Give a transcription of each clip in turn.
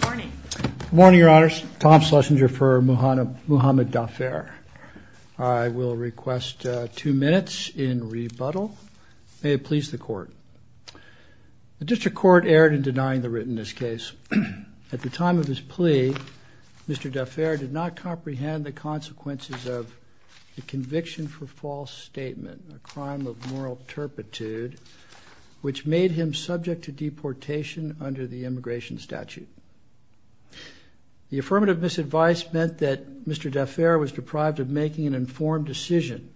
Good morning your honors, Tom Schlesinger for Mouhamed Dafer. I will request two minutes in rebuttal. May it please the court. The district court erred in denying the writtenness case. At the time of his plea, Mr. Dafer did not comprehend the consequences of the conviction for false statement, a crime of moral turpitude, which made him subject to deportation under the immigration statute. The affirmative misadvice meant that Mr. Dafer was deprived of making an informed decision.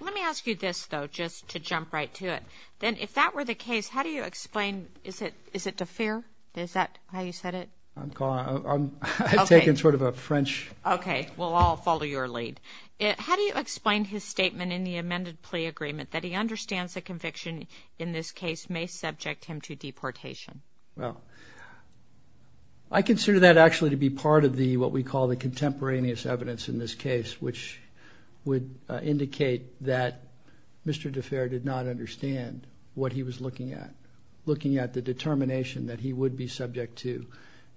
Let me ask you this though, just to jump right to it, then if that were the case, how do you explain, is it, is it Dafer? Is that how you said it? I'm taking sort of a French. Okay, we'll all follow your lead. How do you explain his statement in the amended plea agreement that he understands a conviction in this case may subject him to deportation? Well, I consider that actually to be part of the, what we call the contemporaneous evidence in this case, which would indicate that Mr. Dafer did not understand what he was looking at, looking at the determination that he would be subject to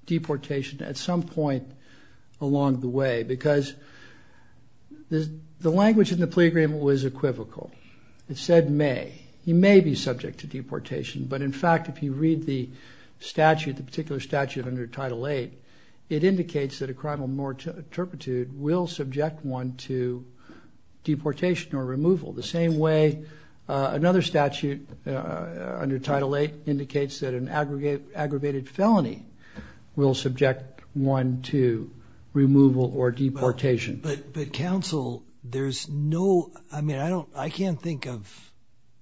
deportation at some point along the way, because the language in the plea agreement was equivocal. It said may. He may be subject to deportation, but in fact, if you read the statute, the particular statute under Title VIII, it indicates that a crime of moral turpitude will subject one to deportation or removal, the same way another statute under Title VIII indicates that an aggravated felony will subject one to removal or deportation. But, but counsel, there's no, I mean, I don't, I can't think of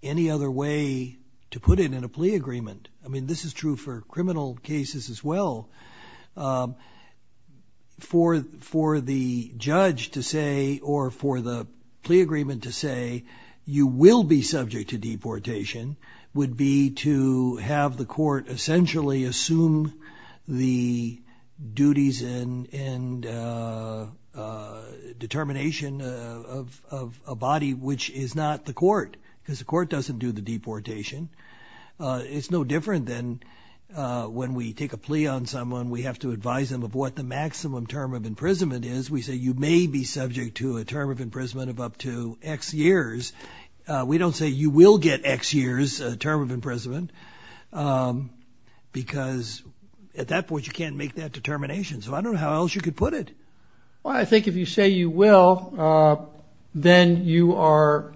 any other way to put it in a plea agreement. I mean, this is true for criminal cases as well. For, for the judge to say, or for the plea agreement to say, you will be subject to deportation, would be to have the court essentially assume the duties and determination of a body, which is not the court, because the court doesn't do the deportation. It's no different than when we take a plea on someone, we have to advise them of what the maximum term of imprisonment is. We say you may be subject to a term of imprisonment of up to X years. We don't say you will get X years term of imprisonment, because at that point, you can't make that determination. So I don't know how else you could put it. Well, I think if you say you will, then you are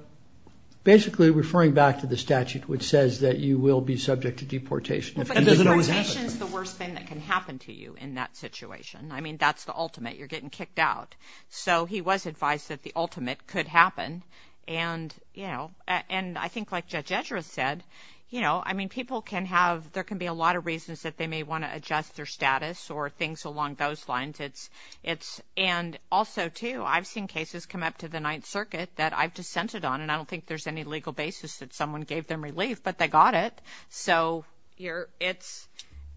basically referring back to the statute, which says that you will be subject to deportation. If it doesn't always happen. Deportation is the worst thing that can happen to you in that situation. I mean, that's the ultimate. You're getting kicked out. So he was advised that the ultimate could happen. And, you know, and I think like Judge Ezra said, you know, I mean, people can have, there can be a lot of reasons that they may want to adjust their status or things along those lines. It's, it's, and also too, I've seen cases come up to the Ninth Circuit that I've dissented on, and I don't think there's any legal basis that someone gave them relief, but they got it. So you're, it's,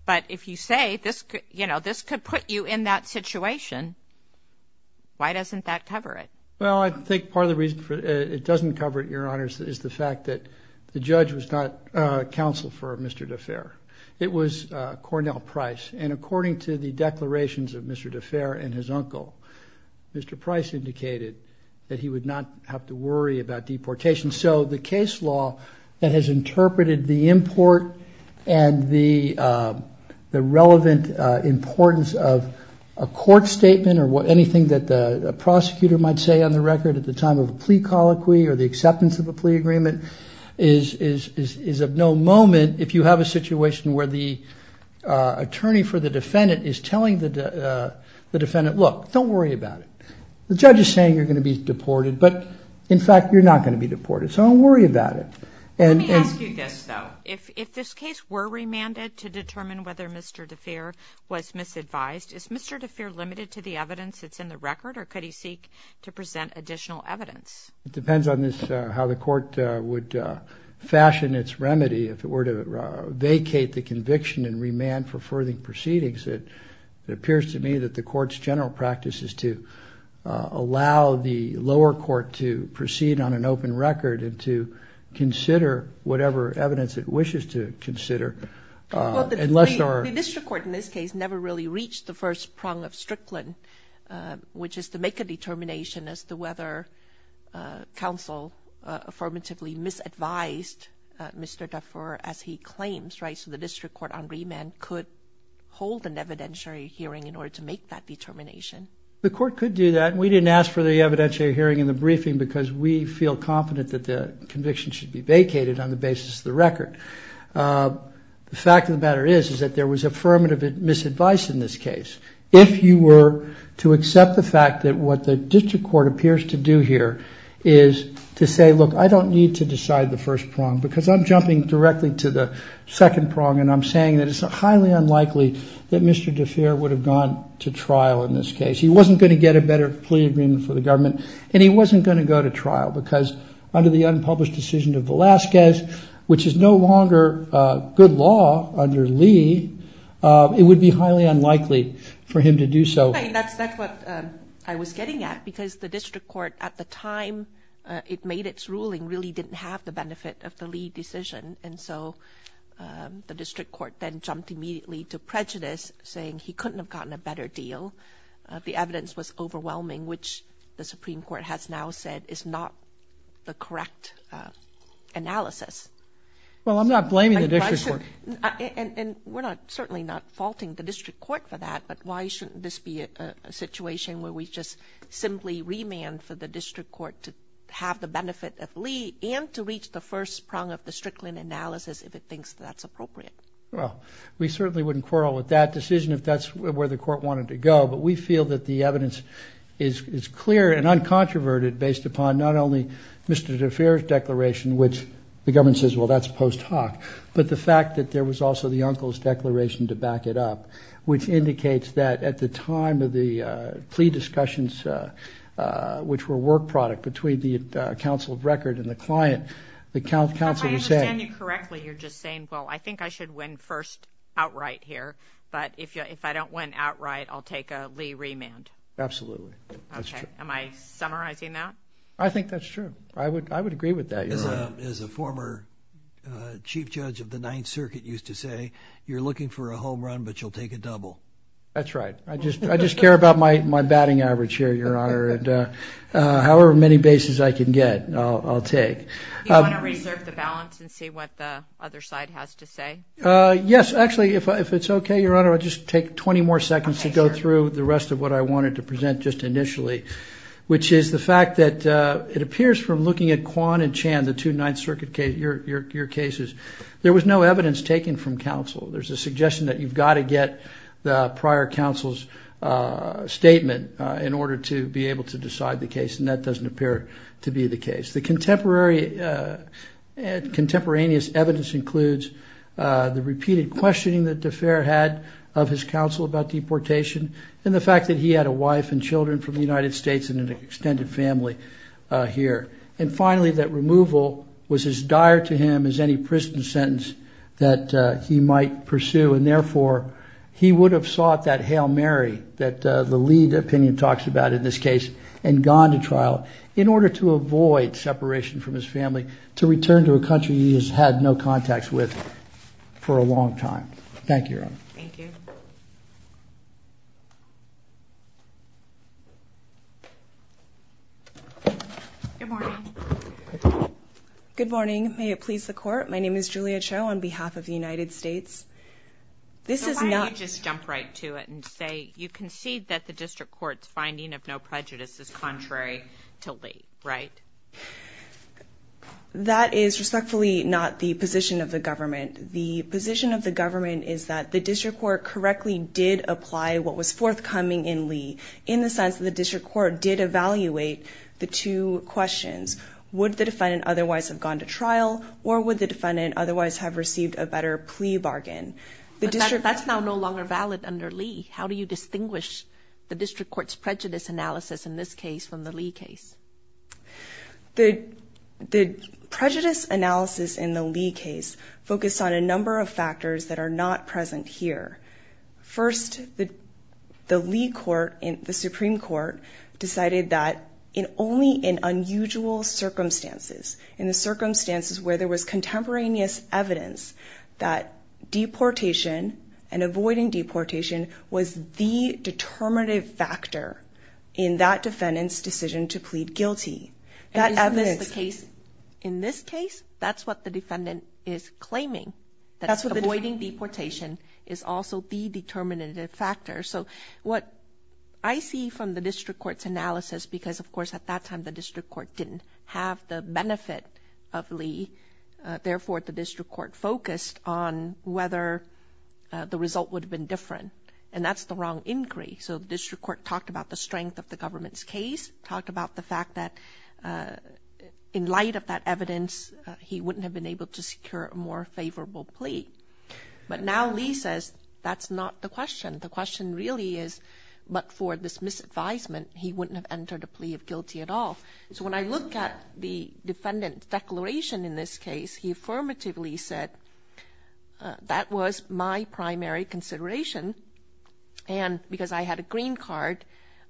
but if you say this, you know, this could put you in that situation. Why doesn't that cover it? Well, I think part of the reason it doesn't cover it, Your Honors, is the fact that the judge was not a counsel for Mr. DeFere. It was Cornell Price. And according to the declarations of Mr. DeFere and his uncle, Mr. Price indicated that he would not have to worry about deportation. So the case law that has interpreted the import and the, the relevant importance of a court statement or what anything that a prosecutor might say on the record at the time of a plea colloquy or the acceptance of a plea agreement is, is, is of no moment if you have a situation where the attorney for the defendant is telling the defendant, look, don't worry about it. The judge is saying you're going to be deported, but in fact, you're not going to be deported. So don't worry about it. And let me ask you this, though. If, if this case were remanded to determine whether Mr. DeFere was misadvised, is Mr. DeFere limited to the evidence that's in the record, or could he seek to present additional evidence? It depends on this, how the court would fashion its remedy. If it were to vacate the conviction and remand for further proceedings, it appears to me that the court's general practice is to allow the lower court to proceed on an open record and to consider whatever evidence it wishes to consider. Unless the district court in this case never really reached the first prong of Strickland, which is to make a counsel affirmatively misadvised Mr. DeFere as he claims, right? So the district court on remand could hold an evidentiary hearing in order to make that determination. The court could do that. We didn't ask for the evidentiary hearing in the briefing because we feel confident that the conviction should be vacated on the basis of the record. The fact of the matter is, is that there was affirmative misadvice in this case. If you were to accept the fact that what the district court appears to do here is to say, look, I don't need to decide the first prong because I'm jumping directly to the second prong and I'm saying that it's highly unlikely that Mr. DeFere would have gone to trial in this case. He wasn't going to get a better plea agreement for the government and he wasn't going to go to trial because under the law, it would be highly unlikely for him to do so. That's what I was getting at, because the district court at the time it made its ruling really didn't have the benefit of the Lee decision. And so the district court then jumped immediately to prejudice, saying he couldn't have gotten a better deal. The evidence was overwhelming, which the Supreme Court has now said is not the correct analysis. Well, I'm not blaming the district court. And we're not, certainly not faulting the district court for that, but why shouldn't this be a situation where we just simply remand for the district court to have the benefit of Lee and to reach the first prong of the Strickland analysis if it thinks that's appropriate? Well, we certainly wouldn't quarrel with that decision if that's where the court wanted to go. But we feel that the evidence is clear and uncontroverted based upon not only Mr. DeFere's declaration, which the government says, well, that's post hoc, but the fact that there was also the uncle's declaration to back it up, which indicates that at the time of the plea discussions, which were work product between the counsel of record and the client, the counsel was saying... If I understand you correctly, you're just saying, well, I think I should win first outright here. But if I don't win outright, I'll take a Lee remand. Absolutely. Am I summarizing that? I think that's true. I would agree with that. As a former chief judge of the Ninth Circuit used to say, you're looking for a home run, but you'll take a double. That's right. I just care about my batting average here, Your Honor. And however many bases I can get, I'll take. Do you want to reserve the balance and see what the other side has to say? Yes, actually, if it's okay, Your Honor, I'll just take 20 more seconds to go through the rest of what I wanted to present just initially, which is the two Ninth Circuit cases, your cases. There was no evidence taken from counsel. There's a suggestion that you've got to get the prior counsel's statement in order to be able to decide the case. And that doesn't appear to be the case. The contemporaneous evidence includes the repeated questioning that DeFere had of his counsel about deportation and the fact that he had a wife and children from the United States and an extended family here. And finally, that removal was as dire to him as any prison sentence that he might pursue. And therefore, he would have sought that Hail Mary that the lead opinion talks about in this case and gone to trial in order to avoid separation from his family, to return to a country he has had no contacts with for a long time. Thank you, Your Honor. Thank you. Good morning. Good morning. May it please the court. My name is Julia Cho on behalf of the United States. This is not just jump right to it and say you concede that the district court's finding of no prejudice is contrary to late, right? That is respectfully not the position of the government. The position of the government is that the district court correctly did apply what was forthcoming in Lee in the sense that the district court did evaluate the two questions. Would the defendant otherwise have gone to trial or would the defendant otherwise have received a better plea bargain? The district that's now no longer valid under Lee. How do you distinguish the district court's prejudice analysis in this case from the Lee case? The prejudice analysis in the Lee case focused on a number of factors that are not present here. First, the Lee court in the Supreme Court decided that in only in unusual circumstances, in the circumstances where there was contemporaneous evidence that deportation and avoiding deportation was the determinative factor in that defendant's decision to plead guilty. That evidence case in this case, that's what the defendant is claiming. That's what avoiding deportation is also the determinative factor. So what I see from the district court's analysis, because, of course, at that time, the district court didn't have the benefit of Lee. Therefore, the district court focused on whether the result would have been different. And that's the wrong inquiry. So the district court talked about the strength of the government's case, talked about the fact that in light of that evidence, he wouldn't have been able to secure a more favorable plea. But now Lee says that's not the question. The question really is, but for this misadvisement, he wouldn't have entered a plea of guilty at all. So when I look at the defendant's declaration in this case, he affirmatively said that was my primary consideration. And because I had a green card,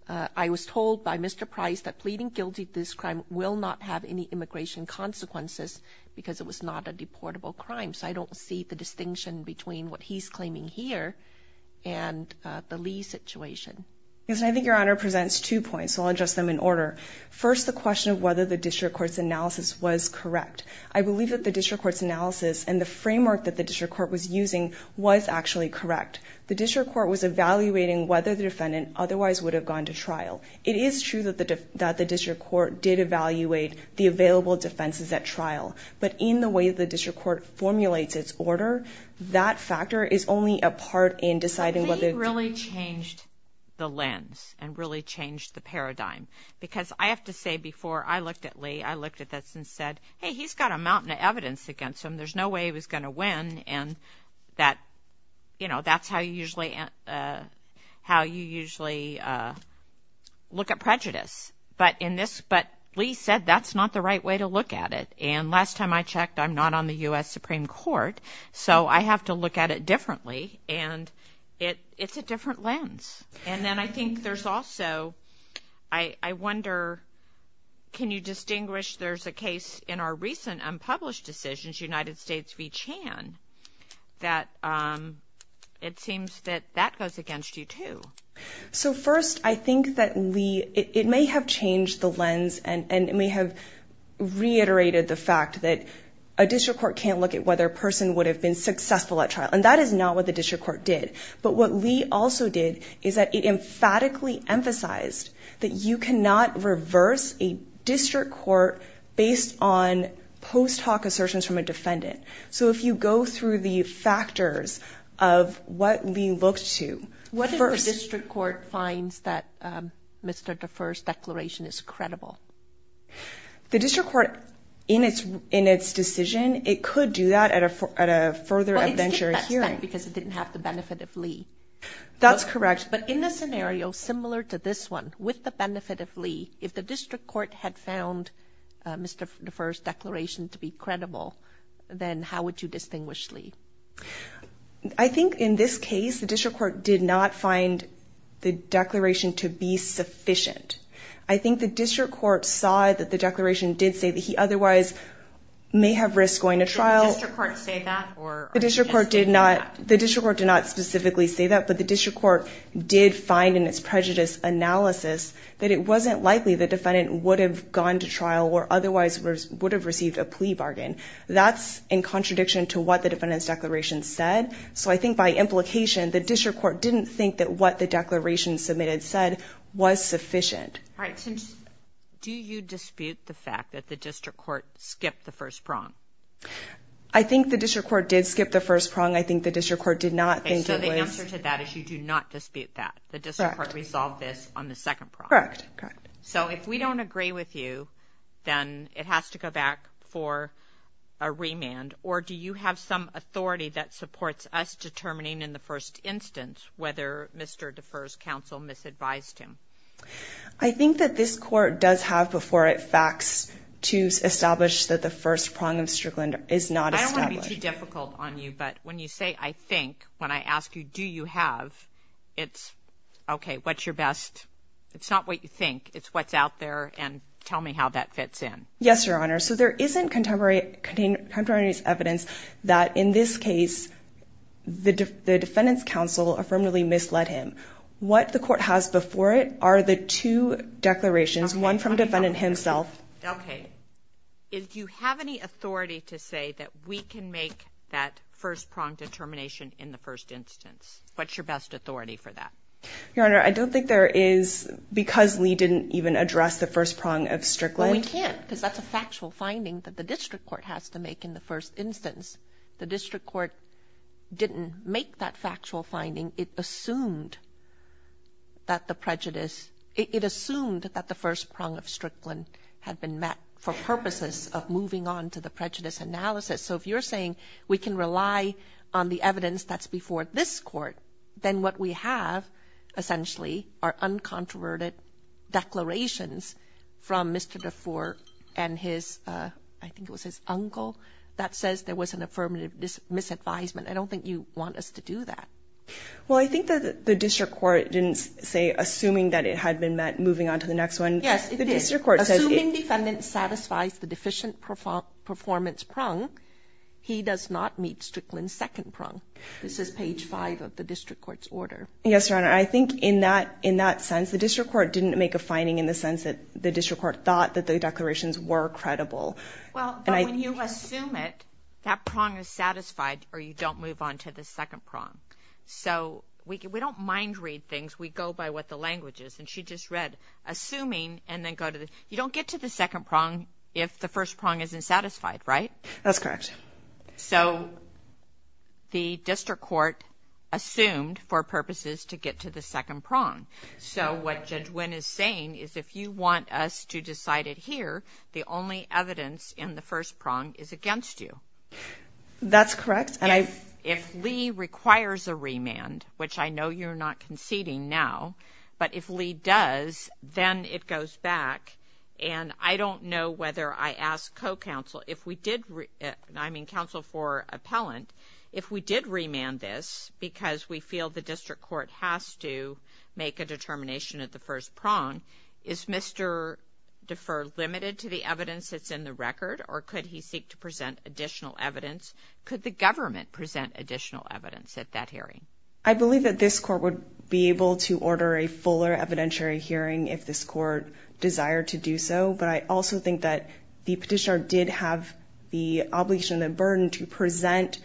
I was told by Mr. Price that pleading guilty to this crime will not have any immigration consequences because it was not a deportable crime. So I don't see the distinction between what he's claiming here and the Lee situation. Yes, I think Your Honor presents two points, so I'll adjust them in order. First, the question of whether the district court's analysis was correct. I believe that the district court's analysis and the framework that the district court was using was actually correct. The district court was evaluating whether the defendant otherwise would have gone to trial. It is true that the district court did evaluate the available defenses at trial. But in the way the district court formulates its order, that factor is only a part in deciding whether. He really changed the lens and really changed the paradigm, because I have to say, before I looked at Lee, I looked at this and said, hey, he's got a mountain of evidence against him. There's no way he was going to win. And that, you know, that's how you usually how you usually look at prejudice. But in this, but Lee said that's not the right way to look at it. And last time I checked, I'm not on the U.S. Supreme Court, so I have to look at it differently. And it's a different lens. And then I think there's also, I wonder, can you distinguish, there's a case in our recent unpublished decisions, United States v. Chan, that it seems that that goes against you, too. So first, I think that Lee, it may have changed the lens and it may have reiterated the fact that a district court can't look at whether a person would have been successful at trial. And that is not what the district court did. But what Lee also did is that it emphatically emphasized that you cannot reverse a district court based on post hoc assertions from a defendant. So if you go through the factors of what Lee looked to. What if the district court finds that Mr. Defer's declaration is credible? The district court in its in its decision, it could do that at a at a further adventure. Because it didn't have the benefit of Lee. That's correct. But in this scenario, similar to this one with the benefit of Lee, if the district court had found Mr. Defer's declaration to be credible, then how would you distinguish Lee? I think in this case, the district court did not find the declaration to be sufficient. I think the district court saw that the declaration did say that he otherwise may have risked going to trial. Did the district court say that? The district court did not. The district court did not specifically say that. But the district court did find in its prejudice analysis that it wasn't likely the defendant would have gone to trial or otherwise would have received a plea bargain. That's in contradiction to what the defendant's declaration said. So I think by implication, the district court didn't think that what the declaration submitted said was sufficient. Do you dispute the fact that the district court skipped the first prompt? I think the district court did skip the first prong. I think the district court did not think it was. So the answer to that is you do not dispute that. The district court resolved this on the second prompt. Correct. So if we don't agree with you, then it has to go back for a remand. Or do you have some authority that supports us determining in the first instance whether Mr. Defer's counsel misadvised him? I think that this court does have before it facts to establish that the first prong of Strickland is not established. I don't want to be too difficult on you, but when you say I think, when I ask you, do you have, it's OK, what's your best? It's not what you think. It's what's out there. And tell me how that fits in. Yes, Your Honor. So there isn't contemporary evidence that in this case, the defendant's counsel affirmatively misled him. What the court has before it are the two declarations, one from defendant himself. OK. If you have any authority to say that we can make that first prong determination in the first instance, what's your best authority for that? Your Honor, I don't think there is, because Lee didn't even address the first prong of Strickland. We can't, because that's a factual finding that the district court has to make in the first instance. The district court didn't make that factual finding. It assumed that the prejudice, it assumed that the first prong of Strickland had been met for purposes of moving on to the prejudice analysis. So if you're saying we can rely on the evidence that's before this court, then what we have essentially are uncontroverted declarations from Mr. DeFore and his, I think it was his uncle, that says there was an affirmative misadvisement. I don't think you want us to do that. Well, I think that the district court didn't say, assuming that it had been met, moving on to the next one. Yes, it is. The district court says. Assuming defendant satisfies the deficient performance prong, he does not meet Strickland's second prong. This is page five of the district court's order. Yes, Your Honor. I think in that, in that sense, the district court didn't make a finding in the sense that the district court thought that the declarations were credible. Well, when you assume it, that prong is satisfied or you don't move on to the second prong. So we don't mind read things. We go by what the language is. And she just read assuming and then go to the, you don't get to the second prong if the first prong isn't satisfied, right? That's correct. So the district court assumed for purposes to get to the second prong. So what Judge Wynn is saying is if you want us to decide it here, the only evidence in the first prong is against you. That's correct. If Lee requires a remand, which I know you're not conceding now, but if Lee does, then it goes back. And I don't know whether I asked co-counsel, if we did, I mean, counsel for appellant, if we did remand this because we feel the district court has to make a determination at the first prong, is Mr. Defer limited to the evidence that's in the record or could he seek to present additional evidence? Could the government present additional evidence at that hearing? I believe that this court would be able to order a fuller evidentiary hearing if this court desired to do so. But I also think that the petitioner did have the obligation, the burden to present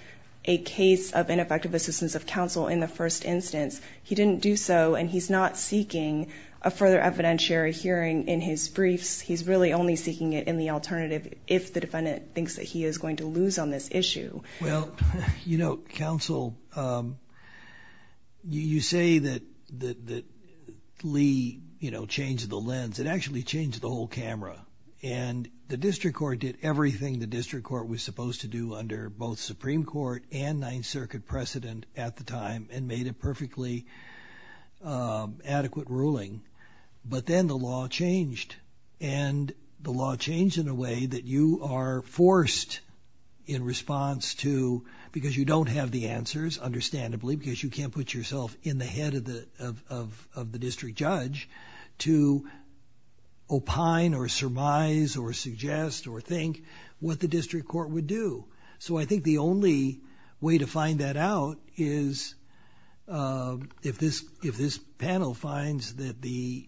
a case of ineffective assistance of counsel in the first instance. He didn't do so. And he's not seeking a further evidentiary hearing in his briefs. He's really only seeking it in the alternative if the defendant thinks that he is going to lose on this issue. Well, you know, counsel, you say that Lee changed the lens. It actually changed the whole camera. And the district court did everything the district court was supposed to do under both Supreme Court and Ninth Circuit precedent at the time and made a perfectly adequate ruling. But then the law changed. And the law changed in a way that you are forced in response to because you don't have the answers, understandably, because you can't put yourself in the head of the of the district judge to opine or surmise or suggest or think what the district court would do. So I think the only way to find that out is if this if this panel finds that the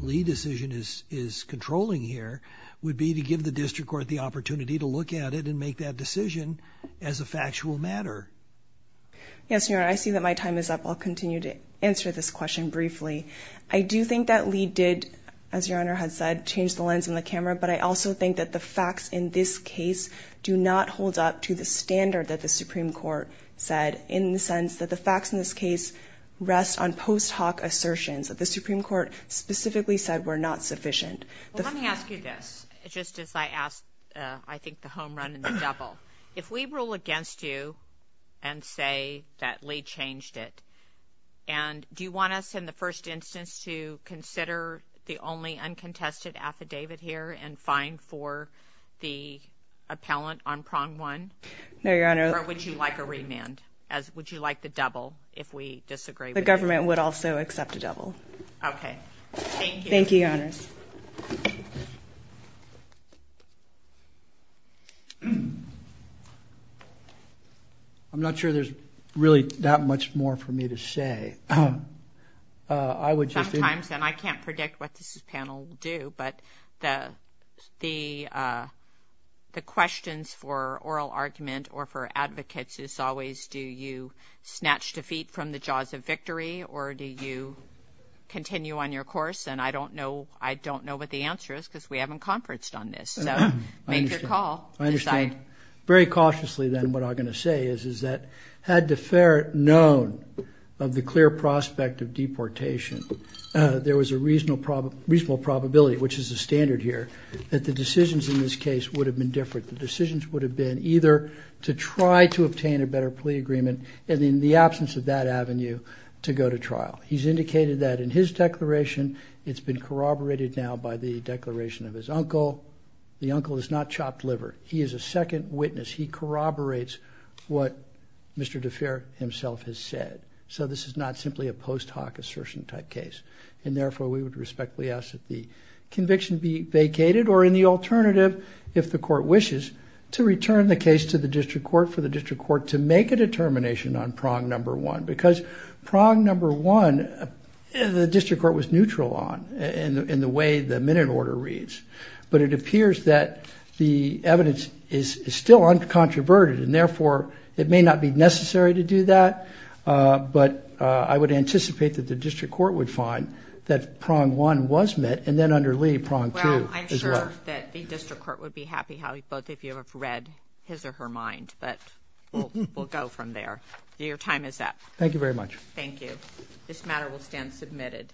Lee decision is is controlling here would be to give the district court the opportunity to look at it and make that decision as a factual matter. Yes, I see that my time is up. I'll continue to answer this question briefly. I do think that we did, as your honor has said, change the lens on the camera. But I also think that the facts in this case do not hold up to the standard that the Supreme Court said in the sense that the facts in this case rest on post hoc assertions that the Supreme Court specifically said were not sufficient. Let me ask you this, just as I asked, I think the homerun and the double if we rule against you and say that Lee changed it and do you want us in the first instance to consider the only uncontested affidavit here and fine for the appellant on prong one? No, your honor. Would you like a remand as would you like the double if we disagree? The government would also accept a double. Okay, thank you. Thank you, your honors. I'm not sure there's really that much more for me to say. Sometimes, and I can't predict what this panel will do, but the questions for oral argument or for advocates is always do you snatch defeat from the jaws of victory or do you continue on your course? And I don't know, I don't know what the answer is because we haven't conferenced on this. So make your call. I understand very cautiously. Then what I'm going to say is, is that had deferred known of the clear prospect of deportation, there was a reasonable problem, reasonable probability, which is a standard here that the decisions in this case would have been different. The decisions would have been either to try to obtain a better plea agreement and in the absence of that avenue to go to trial. He's indicated that in his declaration, it's been corroborated now by the declaration of his uncle. The uncle is not chopped liver. He is a second witness. He corroborates what Mr. DeFere himself has said. So this is not simply a post hoc assertion type case. And therefore, we would respectfully ask that the conviction be vacated or in the alternative, if the court wishes, to return the case to the district court for the district court to make a determination on prong number one. Because prong number one, the district court was neutral on in the way the minute order reads. But it appears that the evidence is still uncontroverted and therefore, it may not be necessary to do that. But I would anticipate that the district court would find that prong one was met and then underlie prong two as well. I'm sure that the district court would be happy how both of you have read his or her mind. But we'll go from there. Your time is up. Thank you very much. Thank you. This matter will stand submitted.